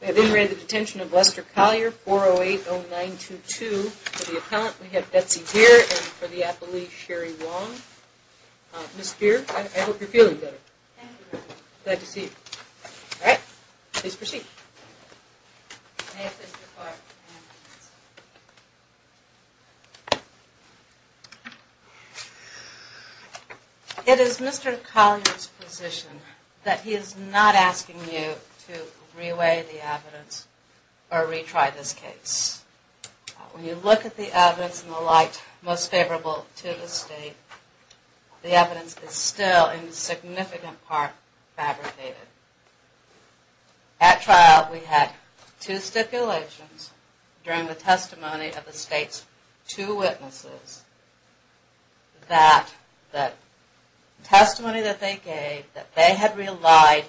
We have been ready to Detention of Lester Collier, 4080922 for the Appellant. We have Betsy Deer and for the Appellee, Sherry Wong. Ms. Deer, I hope you're feeling better. Thank you. Glad to see you. Alright, please proceed. It is Mr. Collier's position that he is not asking you to re-weigh the evidence or re-try this case. When you look at the evidence and the light most favorable to the State, the evidence is still, in significant part, fabricated. At trial, we had two stipulations during the testimony of the State's two witnesses that the testimony that they gave, that they had relied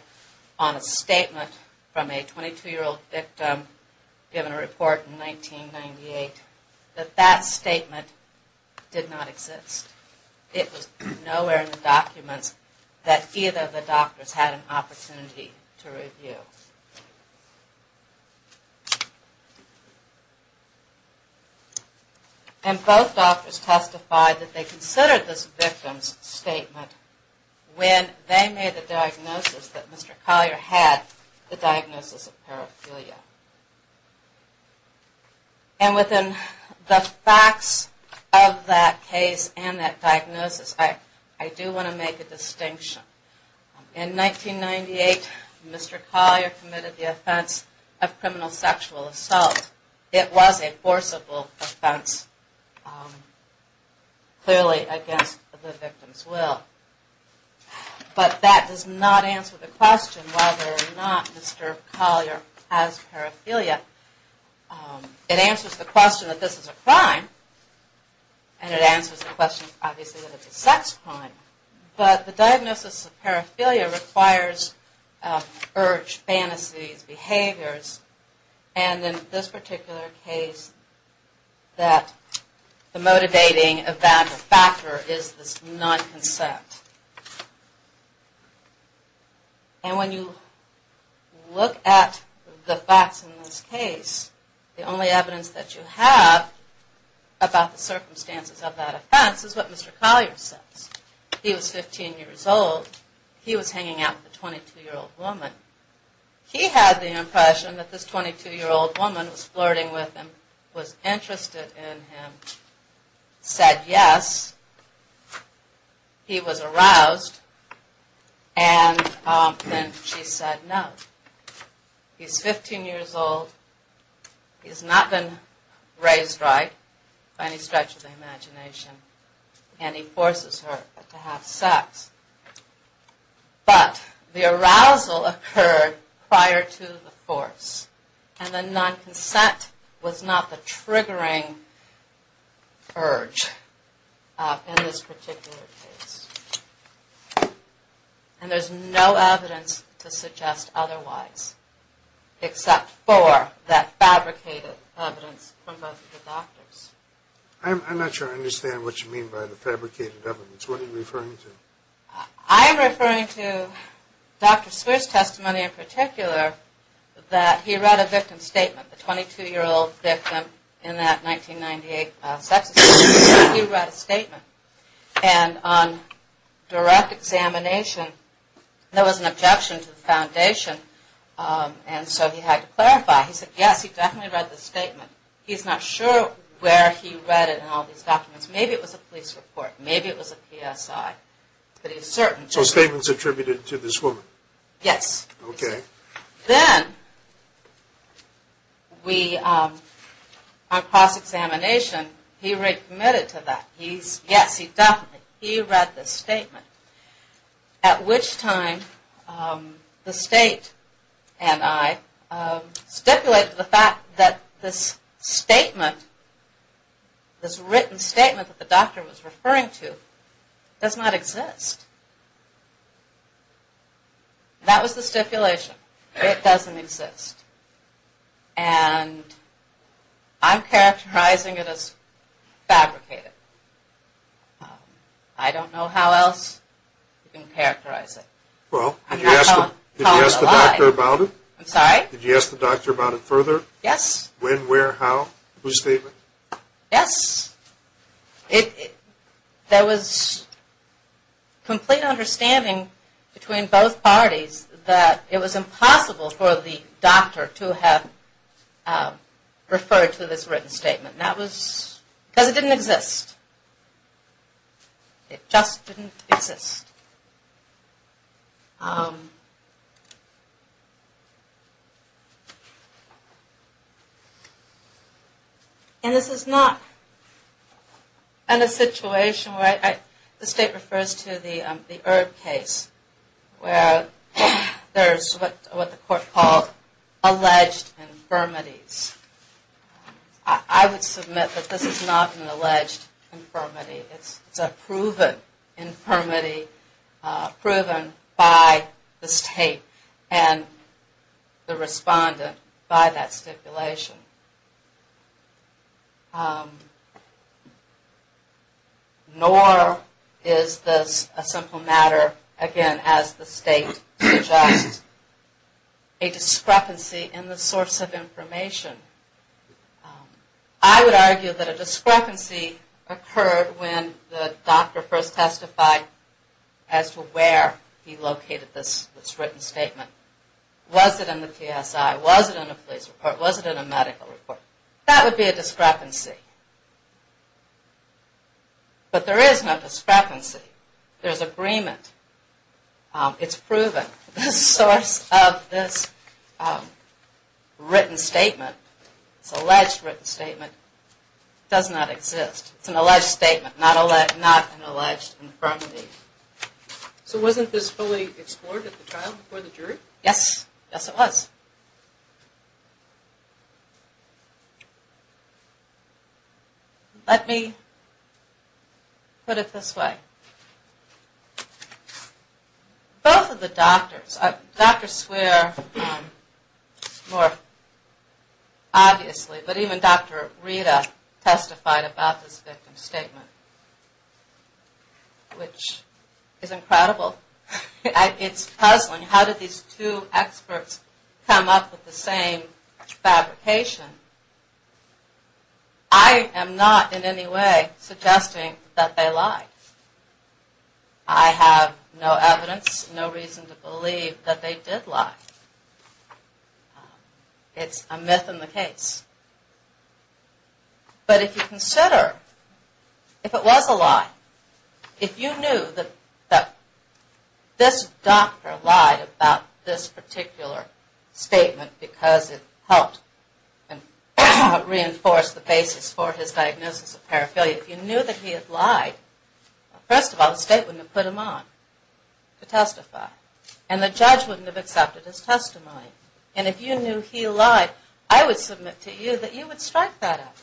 on a statement from a 22-year-old victim given a report in 1998, that that statement did not exist. It was nowhere in the documents that either of the doctors had an opportunity to review. And both doctors testified that they considered this victim's statement when they made the diagnosis that Mr. Collier had, the diagnosis of paraphilia. And within the facts of that case and that diagnosis, I do want to make a distinction. In 1998, Mr. Collier committed the offense of criminal sexual assault. It was a forcible offense, clearly against the victim's will. But that does not answer the question whether or not Mr. Collier has paraphilia. It answers the question that this is a crime. And it answers the question, obviously, that it's a sex crime. But the diagnosis of paraphilia requires urge, fantasies, behaviors. And in this particular case, the motivating factor is this non-consent. And when you look at the facts in this case, the only evidence that you have about the circumstances of that offense is what Mr. Collier says. He was 15 years old. He was hanging out with a 22-year-old woman. He had the impression that this 22-year-old woman was flirting with him, was interested in him, said yes. He was aroused. And then she said no. He's 15 years old. He's not been raised right by any stretch of the imagination. And he forces her to have sex. But the arousal occurred prior to the force. And the non-consent was not the triggering urge in this particular case. And there's no evidence to suggest otherwise, except for that fabricated evidence from both of the doctors. I'm not sure I understand what you mean by the fabricated evidence. What are you referring to? I'm referring to Dr. Sear's testimony in particular, that he read a victim statement. The 22-year-old victim in that 1998 sex offense, he read a statement. And on direct examination, there was an objection to the foundation. And so he had to clarify. He said yes, he definitely read the statement. He's not sure where he read it in all these documents. Maybe it was a police report. Maybe it was a PSI. But he's certain. So the statement's attributed to this woman? Yes. Okay. Then, on cross-examination, he readmitted to that. He's, yes, he definitely, he read the statement. At which time, the state and I stipulated the fact that this statement, this written statement that the doctor was referring to, does not exist. That was the stipulation. It doesn't exist. And I'm characterizing it as fabricated. I don't know how else you can characterize it. Well, did you ask the doctor about it? I'm sorry? Did you ask the doctor about it further? Yes. When, where, how, whose statement? Yes. There was complete understanding between both parties that it was impossible for the doctor to have referred to this written statement. That was, because it didn't exist. It just didn't exist. And this is not in a situation where I, the state refers to the Erb case where there's what the court called alleged infirmities. I would submit that this is not an alleged infirmity. It's a proven infirmity, proven by the state and the respondent by that stipulation. Nor is this a simple matter, again, as the state suggests, a discrepancy in the source of information. I would argue that a discrepancy occurred when the doctor first testified as to where he located this written statement. Was it in the PSI? Was it in a police report? Was it in a medical report? That would be a discrepancy. But there is no discrepancy. There's agreement. It's proven. The source of this written statement, this alleged written statement, does not exist. It's an alleged statement, not an alleged infirmity. So wasn't this fully explored at the trial before the jury? Yes. Yes, it was. Let me put it this way. Both of the doctors, Dr. Swear more obviously, but even Dr. Rita testified about this victim's statement, which is incredible. It's puzzling. How did these two experts come up with the same fabrication? I am not in any way suggesting that they lied. I have no evidence, no reason to believe that they did lie. It's a myth in the case. But if you consider, if it was a lie, if you knew that this doctor lied about this particular statement because it helped reinforce the basis for his diagnosis of paraphernalia, if you knew that he had lied, first of all, the state wouldn't have put him on to testify. And the judge wouldn't have accepted his testimony. And if you knew he lied, I would submit to you that you would strike that evidence.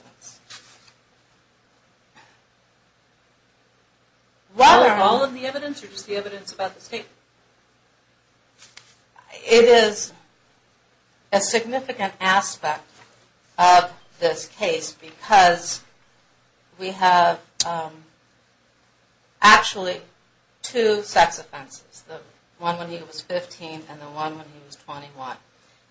Was all of the evidence or just the evidence about the statement? It is a significant aspect of this case because we have actually two sex offenses. The one when he was 15 and the one when he was 21.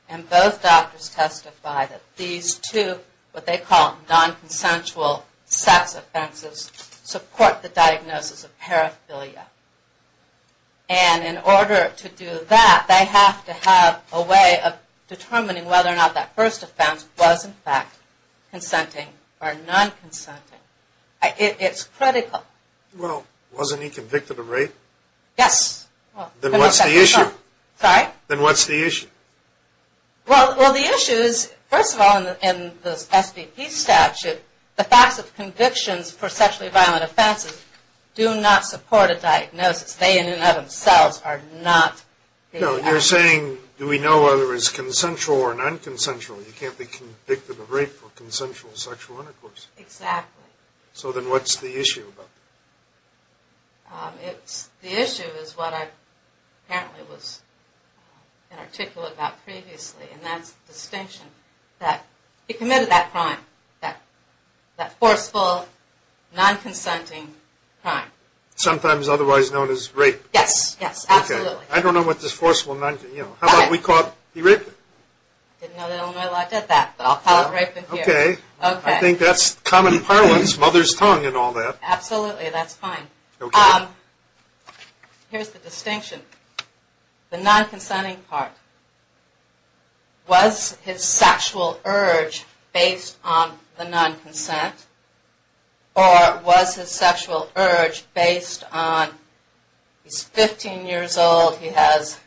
And both doctors testified that these two, what they call non-consensual sex offenses, support the diagnosis of paraphernalia. And in order to do that, they have to have a way of determining whether or not that first offense was in fact consenting or non-consenting. It's critical. Well, wasn't he convicted of rape? Yes. Then what's the issue? Sorry? Then what's the issue? Well, the issue is, first of all, in the SBP statute, the facts of convictions for sexually violent offenses do not support a diagnosis. They in and of themselves are not the evidence. No, you're saying, do we know whether it's consensual or non-consensual? You can't be convicted of rape for consensual sexual intercourse. Exactly. So then what's the issue? The issue is what I apparently was inarticulate about previously, and that's the distinction. He committed that crime, that forceful, non-consenting crime. Sometimes otherwise known as rape. Yes, yes, absolutely. Okay. I don't know what this forceful non-consenting, you know. How about we call it, he raped her? I didn't know the Illinois law did that, but I'll call it rape in here. Okay. Okay. I think that's common parlance, mother's tongue and all that. Absolutely, that's fine. Okay. Here's the distinction. The non-consenting part. Was his sexual urge based on the non-consent, or was his sexual urge based on, he's 15 years old, he has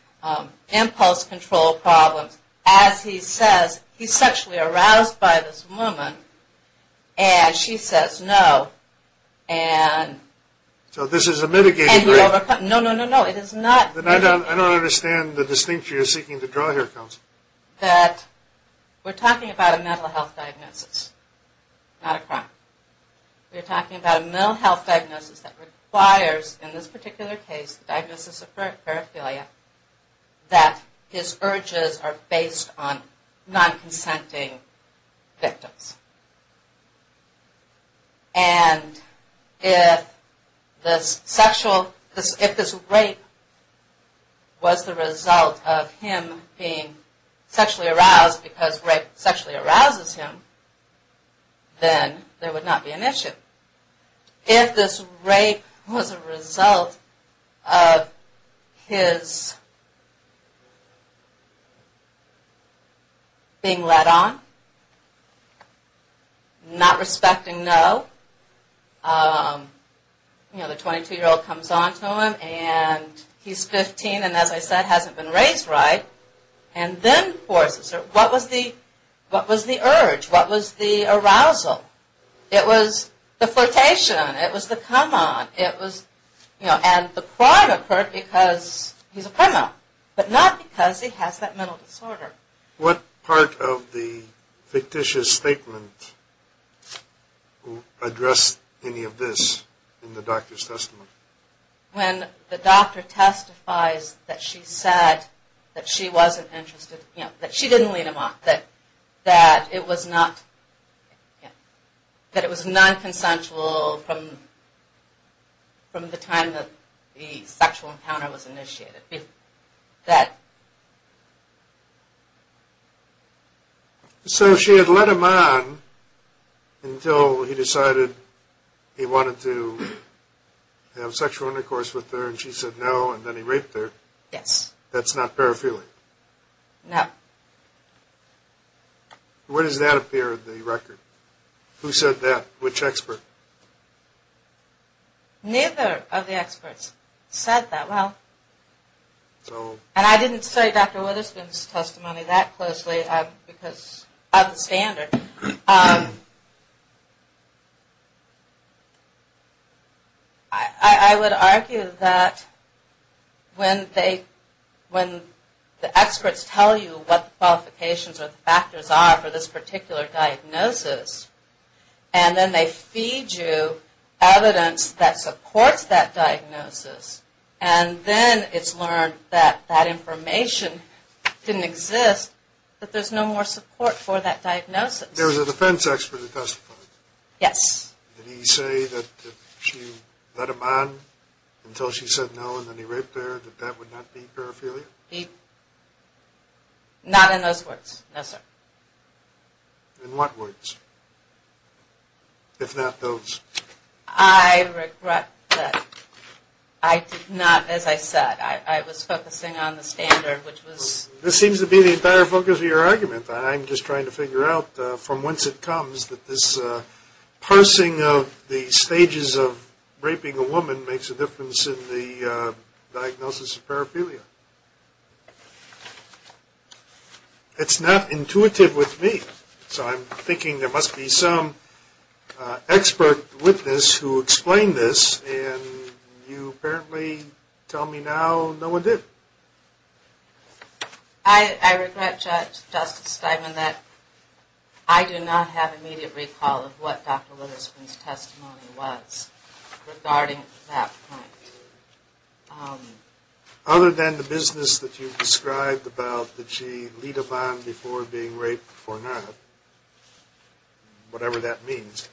impulse control problems. As he says, he's sexually aroused by this woman, and she says no, and... So this is a mitigation, right? No, no, no, no. It is not... I don't understand the distinction you're seeking to draw here, Counsel. That we're talking about a mental health diagnosis, not a crime. We're talking about a mental health diagnosis that requires, in this particular case, diagnosis of paraphilia, that his urges are based on non-consenting victims. And if this rape was the result of him being sexually aroused because rape sexually arouses him, then there would not be an issue. If this rape was a result of his being let on, not respecting no, the 22-year-old comes on to him, and he's 15, and as I said, hasn't been raised right, and then forces her. What was the urge? What was the arousal? It was the flirtation. It was the come on. It was, you know, and the crime occurred because he's a criminal, but not because he has that mental disorder. What part of the fictitious statement addressed any of this in the doctor's testimony? When the doctor testifies that she said that she wasn't interested, that she didn't lead him on, that it was non-consensual from the time that the sexual encounter was initiated. So she had led him on until he decided he wanted to have sexual intercourse with her, and she said no, and then he raped her. Yes. That's not paraphilia? No. Where does that appear in the record? Who said that? Which expert? Neither of the experts said that. Well, and I didn't study Dr. Witherspoon's testimony that closely because of the standard. I would argue that when the experts tell you what the qualifications or the factors are for this particular diagnosis, and then they feed you evidence that supports that diagnosis, and then it's learned that that information didn't exist, that there's no more support for that diagnosis. There was a defense expert who testified. Yes. Did he say that she led him on until she said no, and then he raped her, that that would not be paraphilia? Not in those words, no, sir. In what words, if not those? I regret that I did not, as I said, I was focusing on the standard, which was... This seems to be the entire focus of your argument. I'm just trying to figure out from whence it comes that this parsing of the stages of raping a woman makes a difference in the diagnosis of paraphilia. It's not intuitive with me, so I'm thinking there must be some expert witness who explained this, and you apparently tell me now no one did. I regret, Justice Steinman, that I do not have immediate recall of what Dr. Witherspoon's testimony was regarding that point. Other than the business that you've described about that she'd lead a bond before being raped, before not, whatever that means,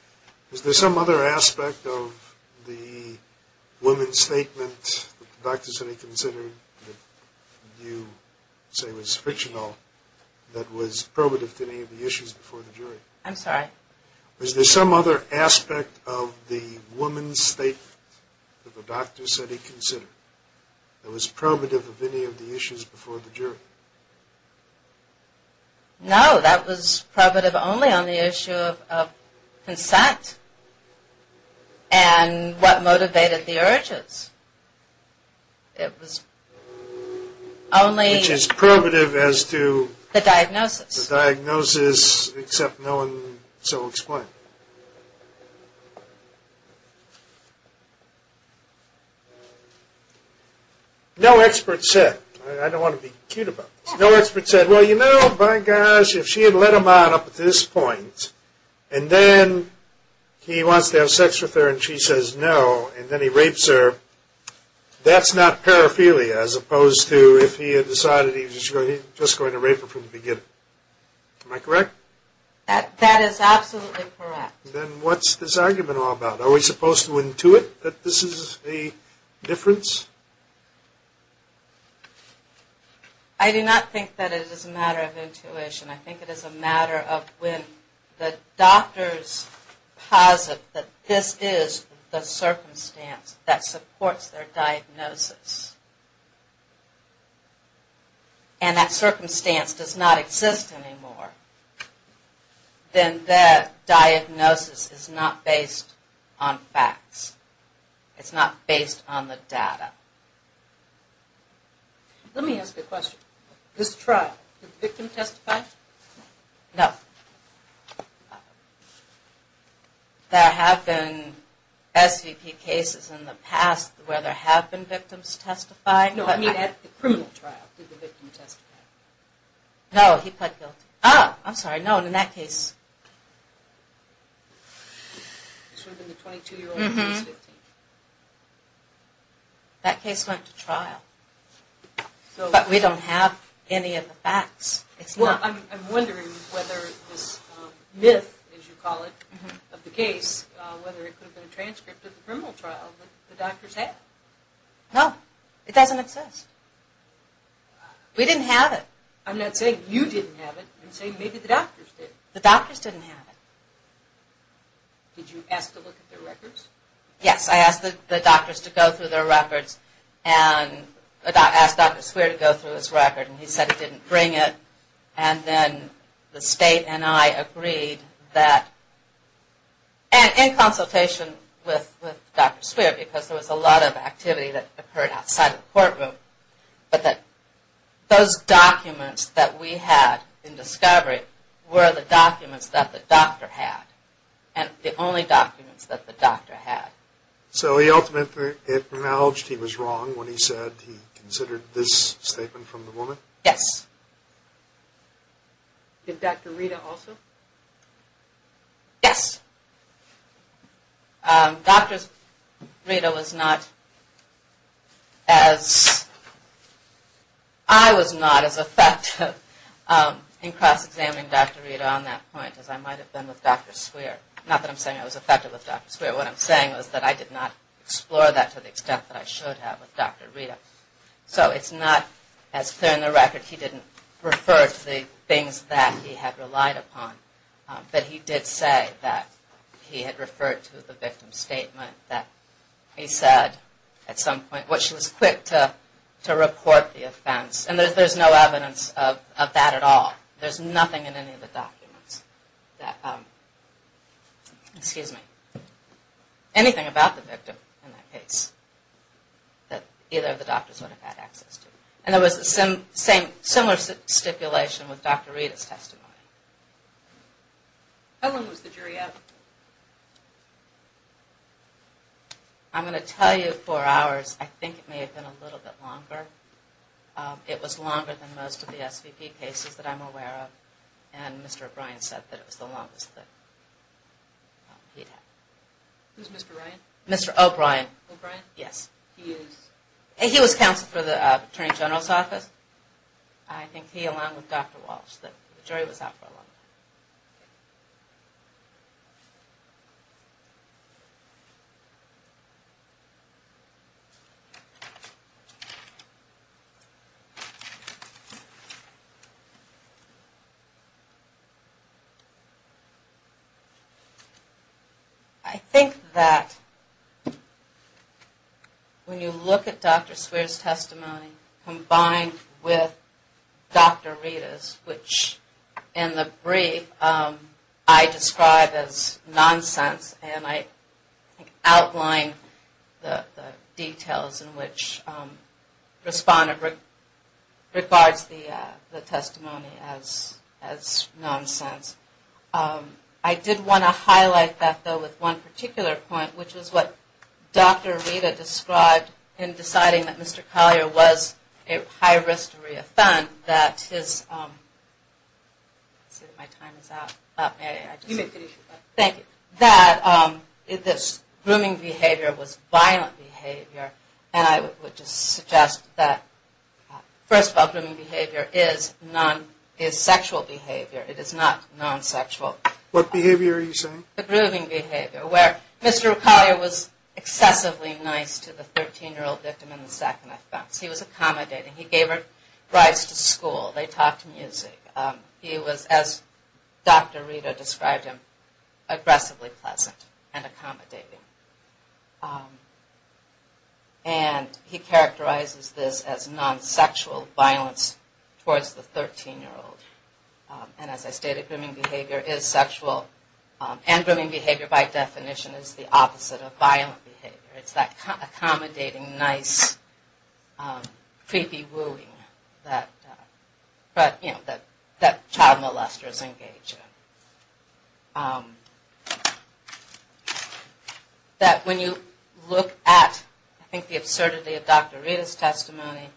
is there some other aspect of the woman's statement that the doctors had considered that you say was frictional that was probative to any of the issues before the jury? I'm sorry? Is there some other aspect of the woman's statement that the doctors had considered that was probative of any of the issues before the jury? No, that was probative only on the issue of consent and what motivated the urges. It was only... Which is probative as to... The diagnosis. The diagnosis, except no one so explained. No expert said. I don't want to be cute about this. No expert said, well, you know, by gosh, if she had led a bond up to this point, and then he wants to have sex with her and she says no, and then he rapes her, that's not paraphilia as opposed to if he had decided he was just going to rape her from the beginning. Am I correct? That is absolutely correct. Then what's this argument all about? Are we supposed to intuit that this is a difference? I do not think that it is a matter of intuition. I think it is a matter of when the doctors posit that this is the circumstance that supports their diagnosis, and that circumstance does not exist anymore, then that diagnosis is not based on facts. It's not based on the data. Let me ask you a question. This trial, did the victim testify? No. There have been SVP cases in the past where there have been victims testify. No, I mean at the criminal trial, did the victim testify? No, he pled guilty. Ah, I'm sorry, no, in that case... The 22-year-old was 15. That case went to trial, but we don't have any of the facts. Well, I'm wondering whether this myth, as you call it, of the case, whether it could have been a transcript of the criminal trial that the doctors had. No, it doesn't exist. We didn't have it. I'm not saying you didn't have it, I'm saying maybe the doctors did. The doctors didn't have it. Did you ask to look at their records? Yes, I asked the doctors to go through their records, and I asked Dr. Swearer to go through his record, and he said he didn't bring it. And then the state and I agreed that, and in consultation with Dr. Swearer, because there was a lot of activity that occurred outside the courtroom, but that those documents that we had in discovery were the documents that the doctor had, and the only documents that the doctor had. So he ultimately acknowledged he was wrong when he said he considered this statement from the woman? Yes. Did Dr. Rita also? Yes. Dr. Rita was not as, I was not as effective in cross-examining Dr. Rita on that point as I might have been with Dr. Swearer. Not that I'm saying I was effective with Dr. Swearer. What I'm saying is that I did not explore that to the extent that I should have with Dr. Rita. So it's not as clear in the record he didn't refer to the things that he had relied upon. But he did say that he had referred to the victim's statement that he said at some point, which was quick to report the offense. And there's no evidence of that at all. There's nothing in any of the documents that, excuse me, anything about the victim in that case that either of the doctors would have had access to. And there was a similar stipulation with Dr. Rita's testimony. How long was the jury out? I'm going to tell you four hours. I think it may have been a little bit longer. It was longer than most of the SVP cases that I'm aware of. And Mr. O'Brien said that it was the longest that he'd had. Who's Mr. O'Brien? Mr. O'Brien. O'Brien? Yes. He is? He was counsel for the Attorney General's office. I think he, along with Dr. Walsh, that the jury was out for a long time. I think that when you look at Dr. Swearer's testimony combined with Dr. Rita's, which in the brief I describe as nonsense, and I outline the details in which respondent regards the testimony as nonsense. I did want to highlight that, though, with one particular point, which is what Dr. Rita described in deciding that Mr. Collier was a high-risk reoffend, that his grooming behavior was violent behavior. And I would just suggest that, first of all, grooming behavior is sexual behavior. It is not non-sexual. What behavior are you saying? The grooming behavior, where Mr. Collier was excessively nice to the 13-year-old victim in the second offense. He was accommodating. He gave her rides to school. They talked music. He was, as Dr. Rita described him, aggressively pleasant and accommodating. And he characterizes this as non-sexual violence towards the 13-year-old. And as I stated, grooming behavior is sexual. And grooming behavior, by definition, is the opposite of violent behavior. It's that accommodating, nice, creepy wooing that child molesters engage in. That when you look at, I think, the absurdity of Dr. Rita's testimony,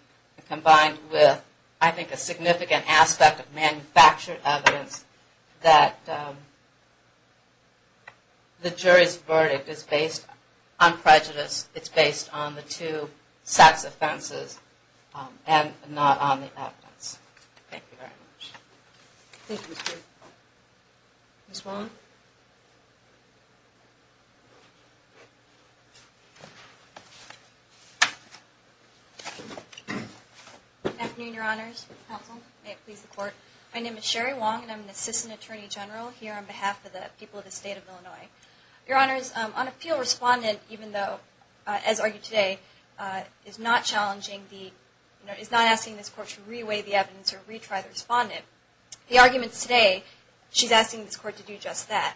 combined with, I think, a significant aspect of manufactured evidence, that the jury's verdict is based on prejudice. It's based on the two sex offenses and not on the evidence. Thank you very much. Thank you, Ms. Greer. Ms. Wong? Good afternoon, Your Honors. Counsel. May it please the Court. My name is Sherry Wong, and I'm an Assistant Attorney General here on behalf of the people of the State of Illinois. Your Honors, on appeal, Respondent, even though, as argued today, is not challenging the, is not asking this Court to reweigh the evidence or retry the Respondent. The arguments today, she's asking this Court to do just that.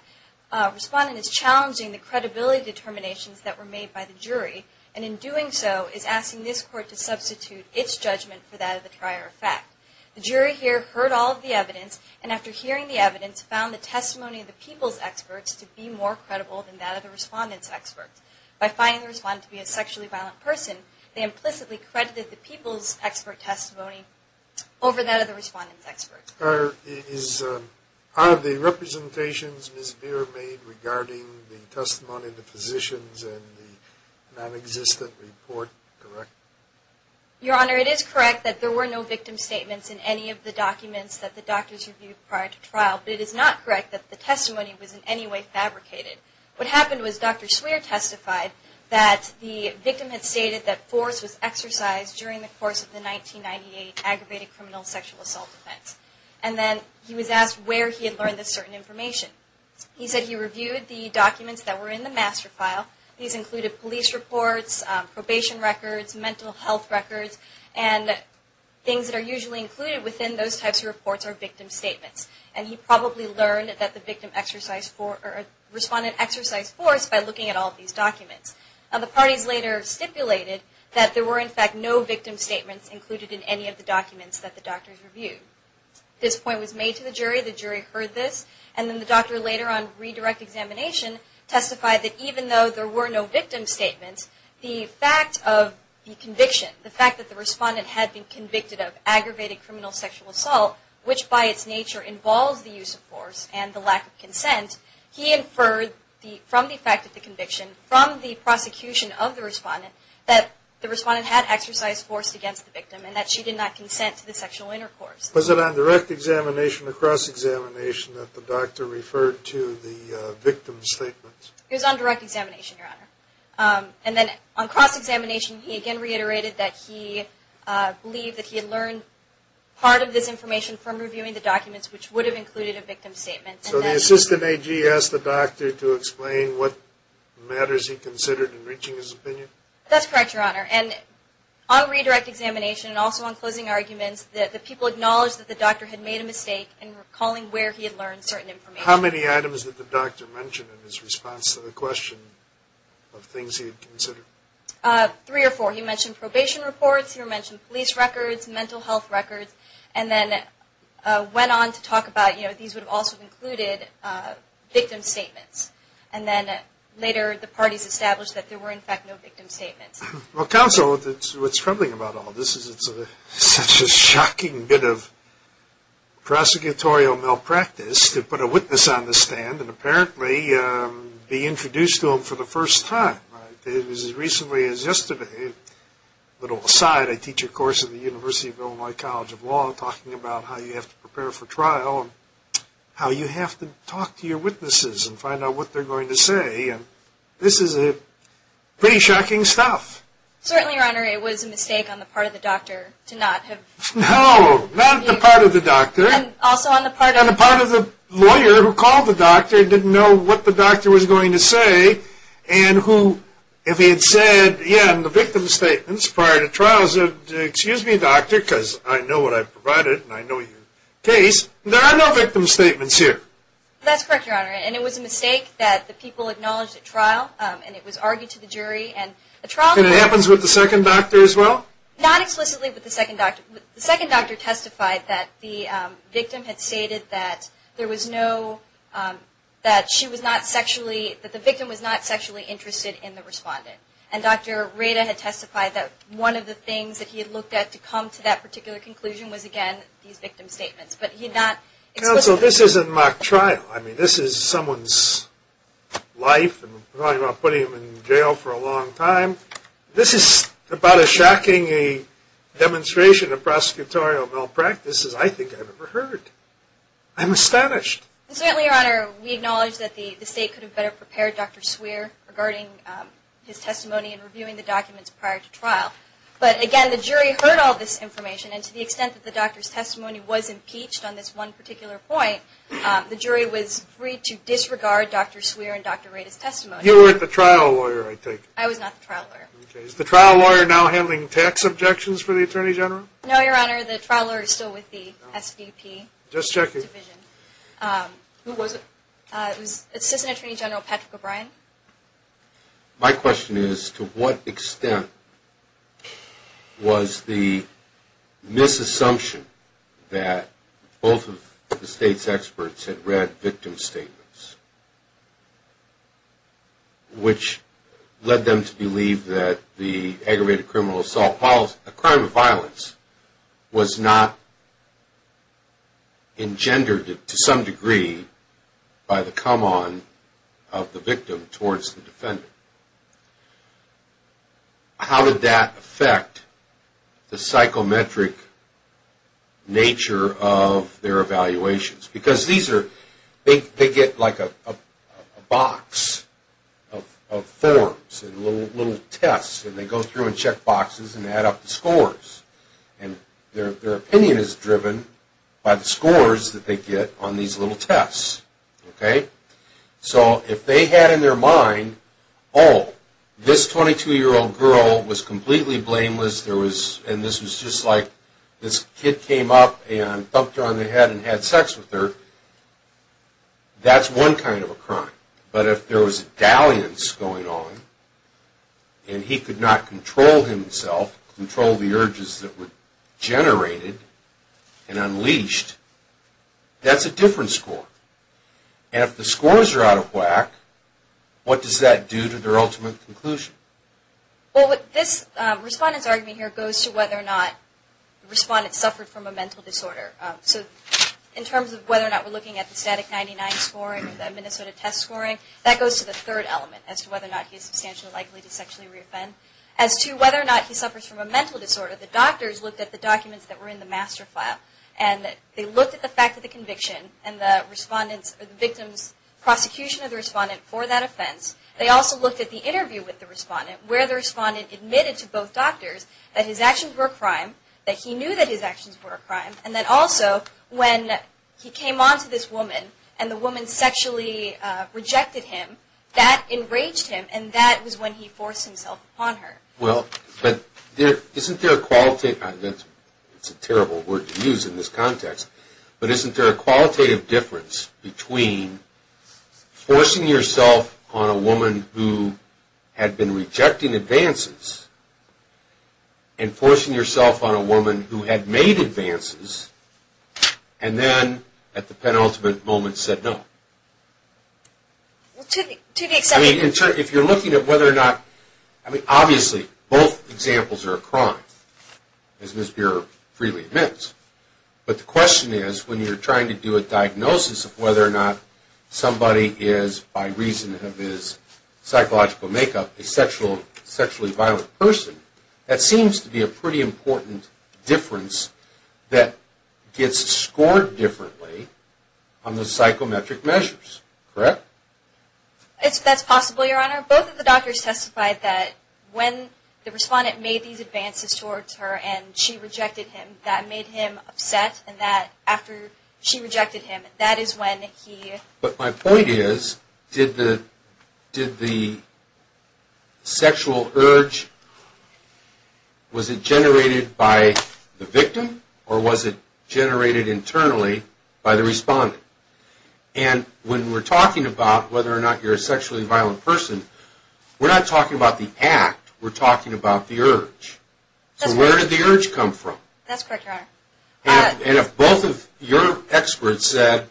Respondent is challenging the credibility determinations that were made by the jury, and in doing so, is asking this Court to substitute its judgment for that of the prior effect. The jury here heard all of the evidence, and after hearing the evidence, found the testimony of the people's experts to be more credible than that of the Respondent's experts. By finding the Respondent to be a sexually violent person, they implicitly credited the people's expert testimony over that of the Respondent's experts. Are the representations, Ms. Greer, made regarding the testimony of the physicians and the nonexistent report correct? Your Honor, it is correct that there were no victim statements in any of the documents that the doctors reviewed prior to trial, but it is not correct that the testimony was in any way fabricated. What happened was Dr. Sweare testified that the victim had stated that force was exercised during the course of the 1998 aggravated criminal sexual assault offense. And then he was asked where he had learned this certain information. He said he reviewed the documents that were in the master file. These included police reports, probation records, mental health records, and things that are usually included within those types of reports are victim statements. And he probably learned that the victim exercised force by looking at all of these documents. The parties later stipulated that there were in fact no victim statements included in any of the documents that the doctors reviewed. This point was made to the jury, the jury heard this, and then the doctor later on in redirect examination testified that even though there were no victim statements, the fact of the conviction, the fact that the respondent had been convicted of aggravated criminal sexual assault, which by its nature involves the use of force and the lack of consent, he inferred from the fact of the conviction, from the prosecution of the respondent, that the respondent had exercised force against the victim and that she did not consent to the sexual intercourse. Was it on direct examination or cross-examination that the doctor referred to the victim statements? It was on direct examination, Your Honor. And then on cross-examination he again reiterated that he believed that he had learned part of this information from reviewing the documents which would have included a victim statement. So the assistant AG asked the doctor to explain what matters he considered in reaching his opinion? That's correct, Your Honor. And on redirect examination and also on closing arguments, the people acknowledged that the doctor had made a mistake in recalling where he had learned certain information. How many items did the doctor mention in his response to the question of things he had considered? Three or four. He mentioned probation reports, he mentioned police records, mental health records, and then went on to talk about, you know, these would have also included victim statements. And then later the parties established that there were in fact no victim statements. Well, counsel, what's troubling about all this is it's such a shocking bit of prosecutorial malpractice to put a witness on the stand and apparently be introduced to him for the first time. It was as recently as yesterday. A little aside, I teach a course at the University of Illinois College of Law talking about how you have to prepare for trial and how you have to talk to your witnesses and find out what they're going to say. This is pretty shocking stuff. Certainly, Your Honor, it was a mistake on the part of the doctor to not have... No, not on the part of the doctor. And also on the part of... On the part of the lawyer who called the doctor, didn't know what the doctor was going to say, and who, if he had said, yeah, in the victim statements prior to trials, excuse me, doctor, because I know what I've provided and I know your case, there are no victim statements here. That's correct, Your Honor. And it was a mistake that the people acknowledged at trial and it was argued to the jury. And the trial... And it happens with the second doctor as well? Not explicitly with the second doctor. The second doctor testified that the victim had stated that there was no, that she was not sexually, that the victim was not sexually interested in the respondent. And Dr. Reda had testified that one of the things that he had looked at to come to that particular conclusion was, again, these victim statements. But he had not explicitly... Counsel, this isn't mock trial. I mean, this is someone's life. We're talking about putting him in jail for a long time. This is about as shocking a demonstration of prosecutorial malpractice as I think I've ever heard. I'm astonished. And certainly, Your Honor, we acknowledge that the state could have better prepared Dr. Swearer regarding his testimony and reviewing the documents prior to trial. But, again, the jury heard all this information, and to the extent that the doctor's testimony was impeached on this one particular point, the jury was free to disregard Dr. Swearer and Dr. Reda's testimony. You were the trial lawyer, I take it? I was not the trial lawyer. Okay. Is the trial lawyer now handling tax objections for the Attorney General? No, Your Honor. The trial lawyer is still with the SDP. Division. Who was it? It was Assistant Attorney General Patrick O'Brien. My question is to what extent was the misassumption that both of the state's experts had read victim statements, which led them to believe that the aggravated criminal assault policy, a crime of violence, was not engendered to some degree by the come-on of the victim towards the defendant? How did that affect the psychometric nature of their evaluations? Because these are, they get like a box of forms and little tests, and they go through and check boxes and add up the scores, and their opinion is driven by the scores that they get on these little tests. Okay? So if they had in their mind, oh, this 22-year-old girl was completely blameless, and this was just like this kid came up and thumped her on the head and had sex with her, that's one kind of a crime. But if there was a dalliance going on, and he could not control himself, control the urges that were generated and unleashed, that's a different score. And if the scores are out of whack, what does that do to their ultimate conclusion? Well, this respondent's argument here goes to whether or not the respondent suffered from a mental disorder. So in terms of whether or not we're looking at the static 99 scoring, the Minnesota test scoring, that goes to the third element as to whether or not he's substantially likely to sexually re-offend. As to whether or not he suffers from a mental disorder, the doctors looked at the documents that were in the master file, and they looked at the fact of the conviction, and the victim's prosecution of the respondent for that offense. They also looked at the interview with the respondent, where the respondent admitted to both doctors that his actions were a crime, that he knew that his actions were a crime, and that also when he came on to this woman, and the woman sexually rejected him, that enraged him, and that was when he forced himself upon her. Well, but isn't there a qualitative, that's a terrible word to use in this context, but isn't there a qualitative difference between forcing yourself on a woman who had been rejecting advances, and forcing yourself on a woman who had made advances, and then at the penultimate moment said no? Well, to the extent that... I mean, if you're looking at whether or not, I mean, obviously both examples are a crime, as Ms. Buehrer freely admits, but the question is when you're trying to do a diagnosis of whether or not somebody is, by reason of his psychological makeup, a sexually violent person, that seems to be a pretty important difference that gets scored differently on the psychometric measures, correct? That's possible, Your Honor. Both of the doctors testified that when the respondent made these advances towards her and she rejected him, that made him upset, and that after she rejected him, that is when he... But my point is, did the sexual urge, was it generated by the victim, or was it generated internally by the respondent? And when we're talking about whether or not you're a sexually violent person, we're not talking about the act, we're talking about the urge. So where did the urge come from? That's correct, Your Honor. And if both of your experts said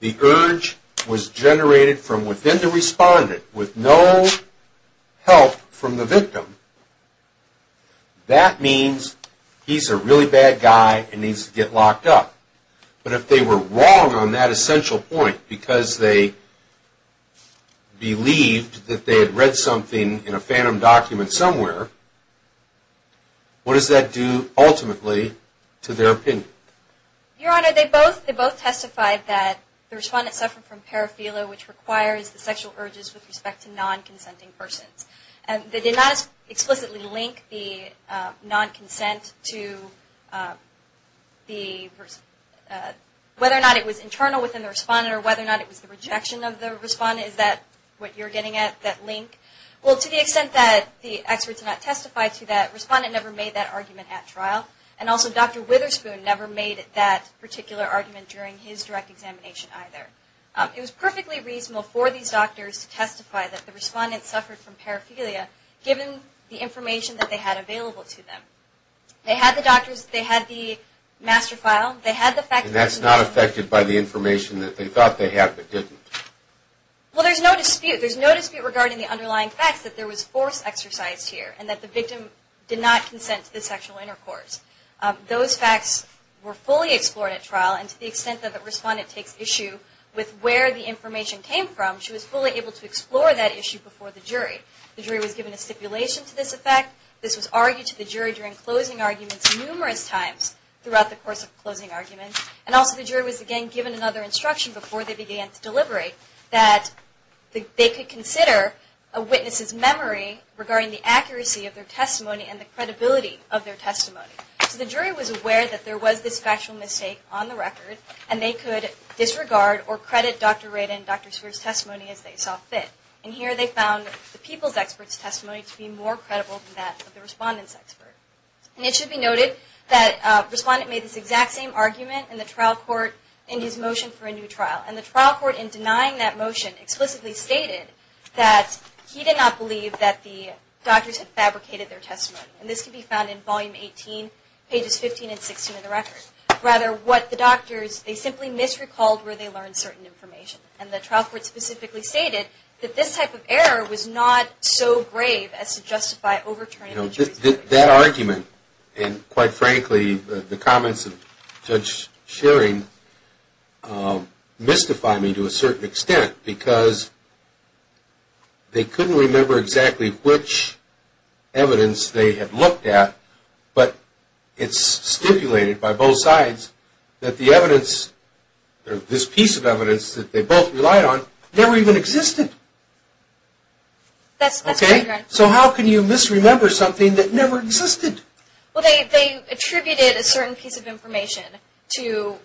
the urge was generated from within the respondent with no help from the victim, that means he's a really bad guy and needs to get locked up. But if they were wrong on that essential point because they believed that they had read something in a phantom document somewhere, what does that do ultimately to their opinion? Your Honor, they both testified that the respondent suffered from paraphilia, which requires the sexual urges with respect to non-consenting persons. They did not explicitly link the non-consent to whether or not it was internal within the respondent or whether or not it was the rejection of the respondent. Is that what you're getting at, that link? Well, to the extent that the experts did not testify to that, the respondent never made that argument at trial, and also Dr. Witherspoon never made that particular argument during his direct examination either. It was perfectly reasonable for these doctors to testify that the respondent suffered from paraphilia given the information that they had available to them. They had the doctors, they had the master file, they had the fact that And that's not affected by the information that they thought they had but didn't? Well, there's no dispute. There's no dispute regarding the underlying facts that there was force exercised here and that the victim did not consent to the sexual intercourse. Those facts were fully explored at trial, and to the extent that the respondent takes issue with where the information came from, she was fully able to explore that issue before the jury. The jury was given a stipulation to this effect. This was argued to the jury during closing arguments numerous times throughout the course of closing arguments. And also the jury was again given another instruction before they began to deliberate that they could consider a witness's memory regarding the accuracy of their testimony and the credibility of their testimony. So the jury was aware that there was this factual mistake on the record, and they could disregard or credit Dr. Rayden and Dr. Sears' testimony as they saw fit. And here they found the people's expert's testimony to be more credible than that of the respondent's expert. And it should be noted that the respondent made this exact same argument in the trial court in his motion for a new trial. And the trial court in denying that motion explicitly stated that he did not believe that the doctors had fabricated their testimony. And this can be found in Volume 18, Pages 15 and 16 of the record. Rather, what the doctors, they simply misrecalled where they learned certain information. And the trial court specifically stated that this type of error was not so grave as to justify overturning the jury's decision. That argument and, quite frankly, the comments of Judge Schering mystify me to a certain extent because they couldn't remember exactly which evidence they had looked at, but it's stipulated by both sides that the evidence, this piece of evidence that they both relied on, never even existed. That's correct. So how can you misremember something that never existed? Well, they attributed a certain piece of information to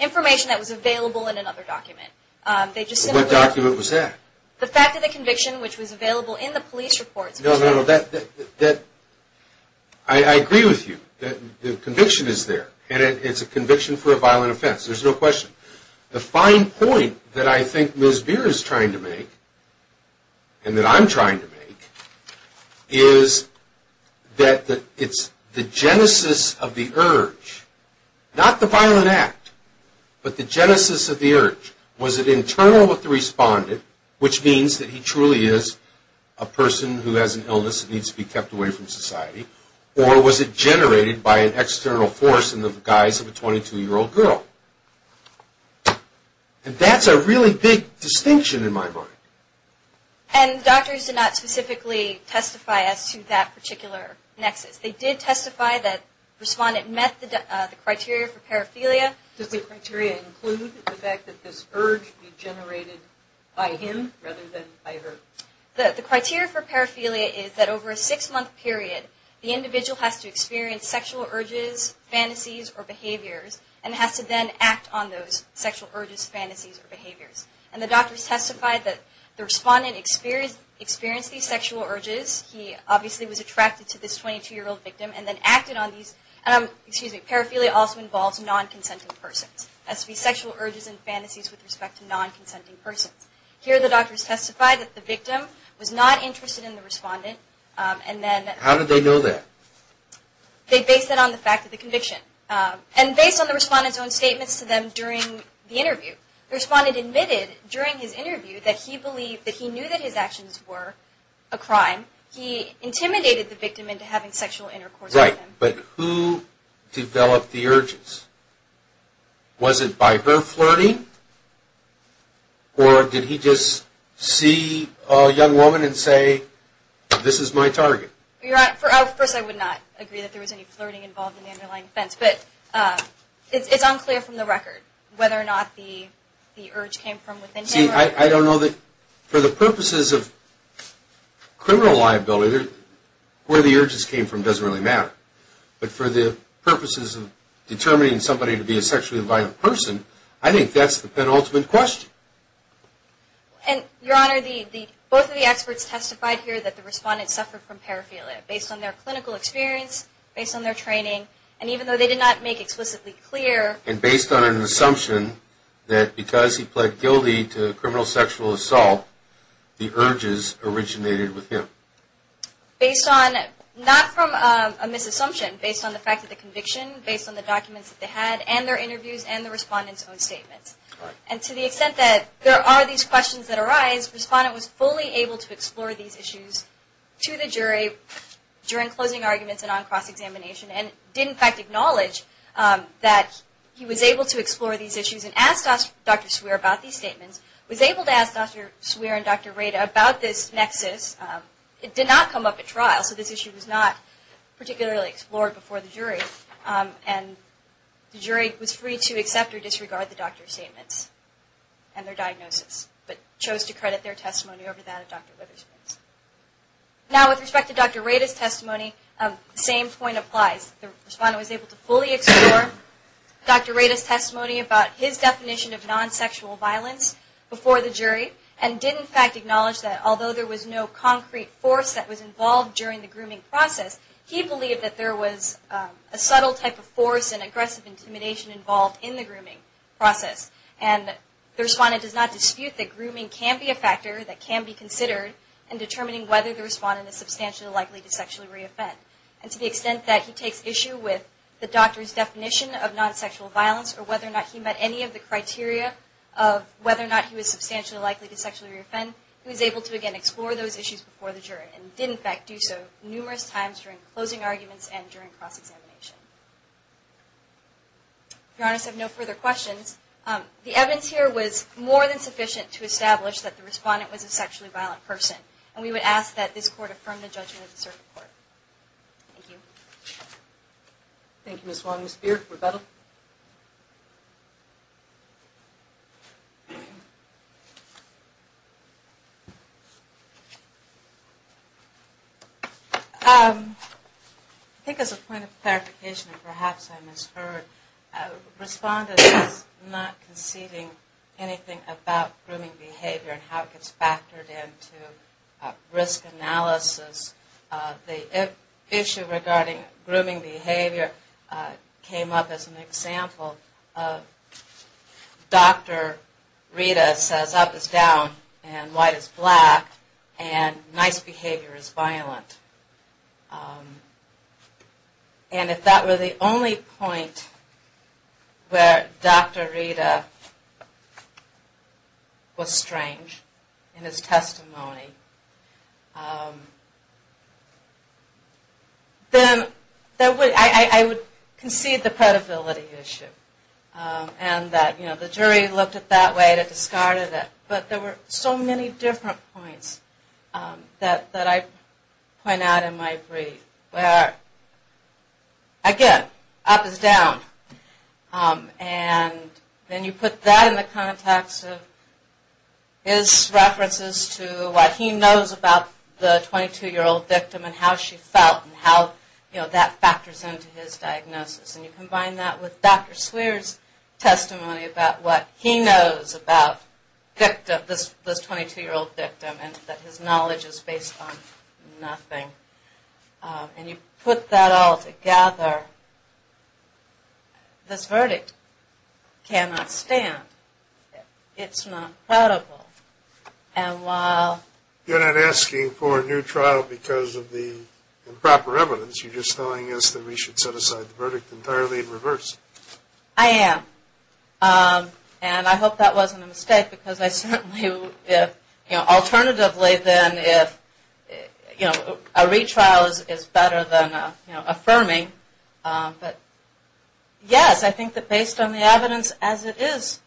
information that was available in another document. What document was that? The fact of the conviction, which was available in the police reports. No, no, no. I agree with you. The conviction is there, and it's a conviction for a violent offense. There's no question. The fine point that I think Ms. Beer is trying to make, and that I'm trying to make, is that it's the genesis of the urge, not the violent act, but the genesis of the urge. Was it internal with the respondent, which means that he truly is a person who has an illness that needs to be kept away from society, or was it generated by an external force in the guise of a 22-year-old girl? And that's a really big distinction in my mind. And doctors did not specifically testify as to that particular nexus. They did testify that the respondent met the criteria for paraphilia. Does the criteria include the fact that this urge was generated by him rather than by her? The criteria for paraphilia is that over a six-month period, the individual has to experience sexual urges, fantasies, or behaviors, and has to then act on those sexual urges, fantasies, or behaviors. And the doctors testified that the respondent experienced these sexual urges. He obviously was attracted to this 22-year-old victim and then acted on these. Paraphilia also involves non-consenting persons. That's to be sexual urges and fantasies with respect to non-consenting persons. Here the doctors testified that the victim was not interested in the respondent. How did they know that? They based it on the fact of the conviction. And based on the respondent's own statements to them during the interview. The respondent admitted during his interview that he knew that his actions were a crime. He intimidated the victim into having sexual intercourse with him. Right, but who developed the urges? Was it by her flirting? Or did he just see a young woman and say, this is my target? First, I would not agree that there was any flirting involved in the underlying offense. But it's unclear from the record whether or not the urge came from within him. See, I don't know that for the purposes of criminal liability, where the urges came from doesn't really matter. But for the purposes of determining somebody to be a sexually violent person, I think that's the penultimate question. Your Honor, both of the experts testified here that the respondent suffered from paraphilia. Based on their clinical experience, based on their training, and even though they did not make it explicitly clear. And based on an assumption that because he pled guilty to criminal sexual assault, the urges originated with him. Based on, not from a misassumption, based on the fact that the conviction, based on the documents that they had, and their interviews, and the respondent's own statements. And to the extent that there are these questions that arise, the respondent was fully able to explore these issues to the jury during closing arguments and on cross-examination. And did in fact acknowledge that he was able to explore these issues and asked Dr. Swearer about these statements. Was able to ask Dr. Swearer and Dr. Rada about this nexus. It did not come up at trial, so this issue was not particularly explored before the jury. And the jury was free to accept or disregard the doctor's statements and their diagnosis. But chose to credit their testimony over that of Dr. Rader's. Now with respect to Dr. Rader's testimony, the same point applies. The respondent was able to fully explore Dr. Rader's testimony about his definition of non-sexual violence before the jury. And did in fact acknowledge that although there was no concrete force that was involved during the grooming process, he believed that there was a subtle type of force and aggressive intimidation involved in the grooming process. And the respondent does not dispute that grooming can be a factor that can be considered in determining whether the respondent is substantially likely to sexually re-offend. And to the extent that he takes issue with the doctor's definition of non-sexual violence or whether or not he met any of the criteria of whether or not he was substantially likely to sexually re-offend, he was able to again explore those issues before the jury. And did in fact do so numerous times during closing arguments and during cross-examination. If Your Honors have no further questions, the evidence here was more than sufficient to establish that the respondent was a sexually violent person. And we would ask that this Court affirm the judgment of the Circuit Court. Thank you. Thank you, Ms. Wong. Ms. Beard, rebuttal. I think as a point of clarification, and perhaps I misheard, respondent is not conceding anything about grooming behavior and how it gets factored into risk analysis. The issue regarding grooming behavior came up as an example. Dr. Rita says up is down and white is black and nice behavior is violent. And if that were the only point where Dr. Rita was strange in his testimony, then I would concede the credibility issue. And that the jury looked at it that way and discarded it. But there were so many different points that I point out in my brief. Where, again, up is down. And then you put that in the context of his references to what he knows about the 22-year-old victim and how she felt and how that factors into his diagnosis. And you combine that with Dr. Swearer's testimony about what he knows about this 22-year-old victim and that his knowledge is based on nothing. And you put that all together, this verdict cannot stand. It's not credible. And while... You're not asking for a new trial because of the improper evidence. You're just telling us that we should set aside the verdict entirely in reverse. I am. And I hope that wasn't a mistake because I certainly, you know, alternatively than if, you know, a retrial is better than, you know, affirming. But yes, I think that based on the evidence as it is.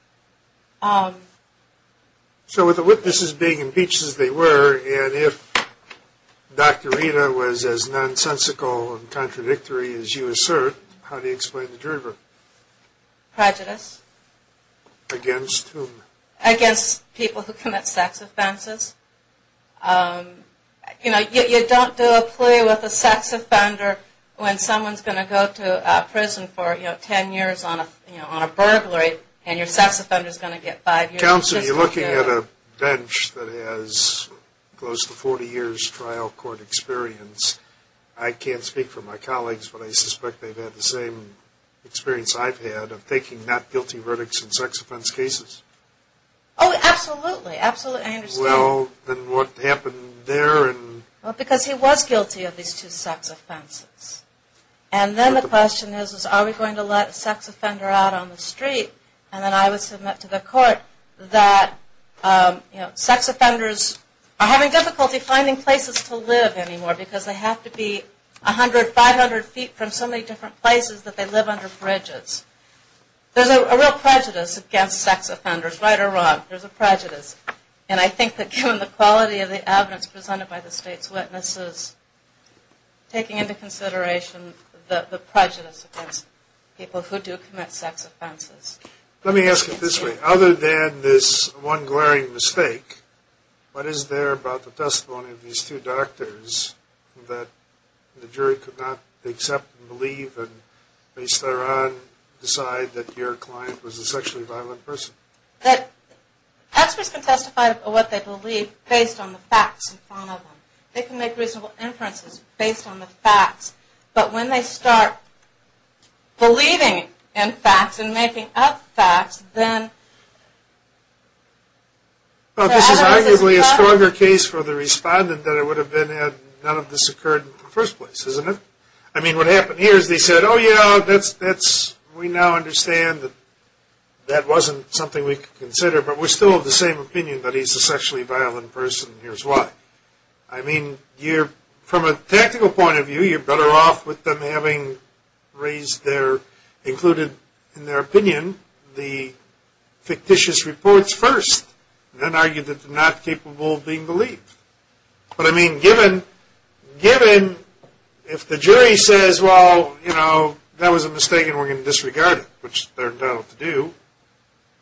So with the witnesses being impeached as they were, and if Dr. Rita was as nonsensical and contradictory as you assert, how do you explain the jury verdict? Prejudice. Against whom? Against people who commit sex offenses. You know, you don't do a plea with a sex offender when someone's going to go to jail for, you know, 10 years on a burglary, and your sex offender's going to get five years. Counsel, you're looking at a bench that has close to 40 years trial court experience. I can't speak for my colleagues, but I suspect they've had the same experience I've had of taking not guilty verdicts in sex offense cases. Oh, absolutely. Absolutely. I understand. Well, then what happened there? Well, because he was guilty of these two sex offenses. And then the question is, is are we going to let a sex offender out on the street? And then I would submit to the court that, you know, sex offenders are having difficulty finding places to live anymore because they have to be 100, 500 feet from so many different places that they live under bridges. There's a real prejudice against sex offenders, right or wrong. There's a prejudice. And I think that given the quality of the evidence presented by the state's witnesses taking into consideration the prejudice against people who do commit sex offenses. Let me ask it this way. Other than this one glaring mistake, what is there about the testimony of these two doctors that the jury could not accept and believe and based thereon decide that your client was a sexually violent person? That experts can testify of what they believe based on the facts in front of them. They can make reasonable inferences based on the facts. But when they start believing in facts and making up facts, then. Well, this is arguably a stronger case for the respondent than it would have been had none of this occurred in the first place, isn't it? I mean, what happened here is they said, oh, you know, that's, we now understand that that wasn't something we could consider. But we still have the same opinion that he's a sexually violent person and here's why. I mean, you're, from a technical point of view, you're better off with them having raised their, included in their opinion, the fictitious reports first, then argue that they're not capable of being believed. But, I mean, given, given if the jury says, well, you know, that was a mistake and we're going to disregard it, which they're entitled to do,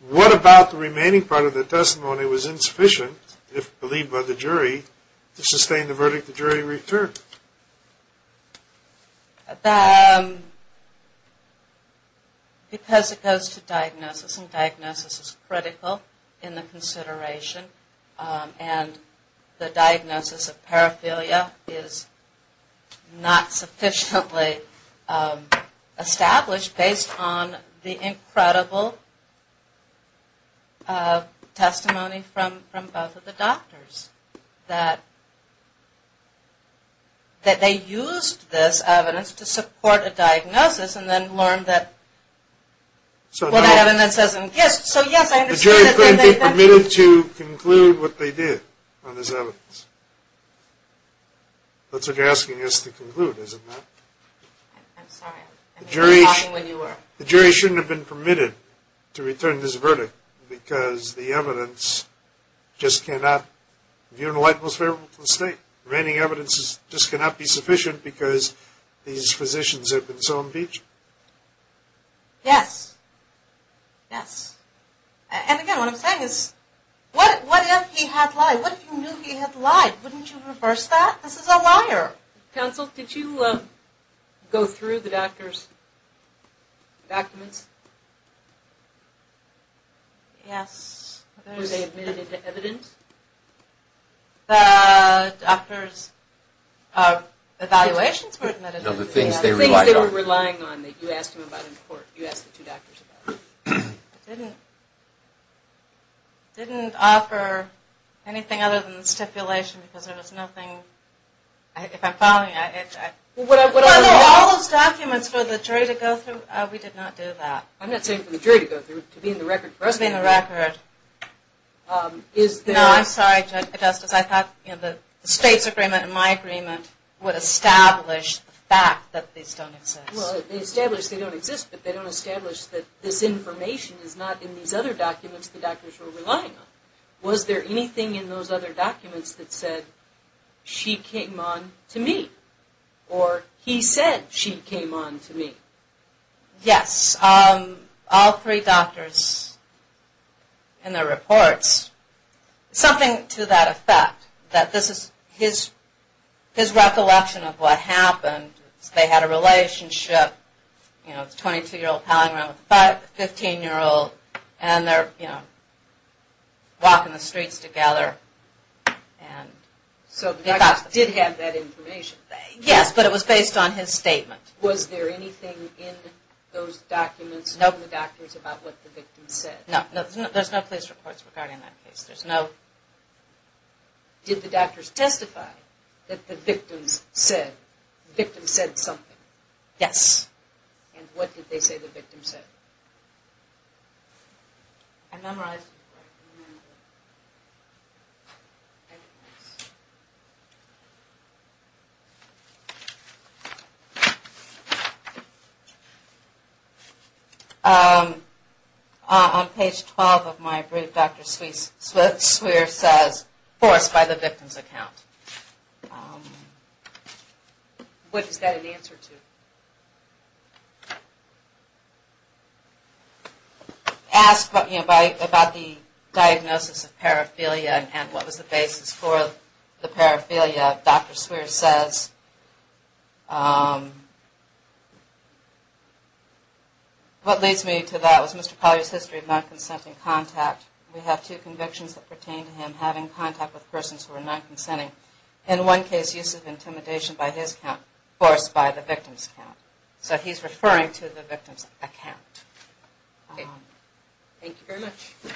what about the remaining part of the testimony was insufficient if believed by the jury to sustain the verdict the jury returned? Because it goes to diagnosis and diagnosis is critical in the consideration and the diagnosis of paraphilia is not sufficiently established based on the evidence that they used this evidence to support a diagnosis and then learned that what evidence doesn't exist. So, yes, I understand. The jury couldn't be permitted to conclude what they did on this evidence. That's what you're asking us to conclude, isn't it? I'm sorry. I'm talking when you were. The jury shouldn't have been permitted to return this verdict because the jury was favorable to the state. The remaining evidence just cannot be sufficient because these physicians have been so impeached. Yes. Yes. And, again, what I'm saying is what if he had lied? What if you knew he had lied? Wouldn't you reverse that? This is a liar. Counsel, did you go through the doctor's documents? Yes. Were they admitted to evidence? The doctor's evaluations were admitted to evidence. Of the things they relied on. The things they were relying on that you asked him about in court. You asked the two doctors about. I didn't offer anything other than the stipulation because there was nothing. If I'm following, I. Well, what I was. Were there all those documents for the jury to go through? We did not do that. I'm not saying for the jury to go through. To be in the record. For us to be in the record. No, I'm sorry, Justice. I thought the state's agreement and my agreement would establish the fact that these don't exist. Well, they establish they don't exist, but they don't establish that this information is not in these other documents the doctors were relying on. Was there anything in those other documents that said she came on to me? Or he said she came on to me? Yes. All three doctors in their reports. Something to that effect. That this is his recollection of what happened. They had a relationship. You know, 22-year-old piling around with a 15-year-old. And they're, you know, walking the streets together. So the doctors did have that information. Yes, but it was based on his statement. Was there anything in those documents from the doctors about what the victims said? No. There's no police reports regarding that case. There's no. Did the doctors testify that the victims said something? Yes. And what did they say the victims said? I memorized it. On page 12 of my brief, Dr. Swearer says, forced by the victim's account. What is that an answer to? Asked about the diagnosis of paraphilia and what was the basis for the paraphilia. Dr. Swearer says, what leads me to that was Mr. Collier's history of non-consenting contact. We have two convictions that pertain to him having contact with persons who are non-consenting. In one case, use of intimidation by his account, forced by the victim's account. So he's referring to the victim's account. Okay. Thank you very much.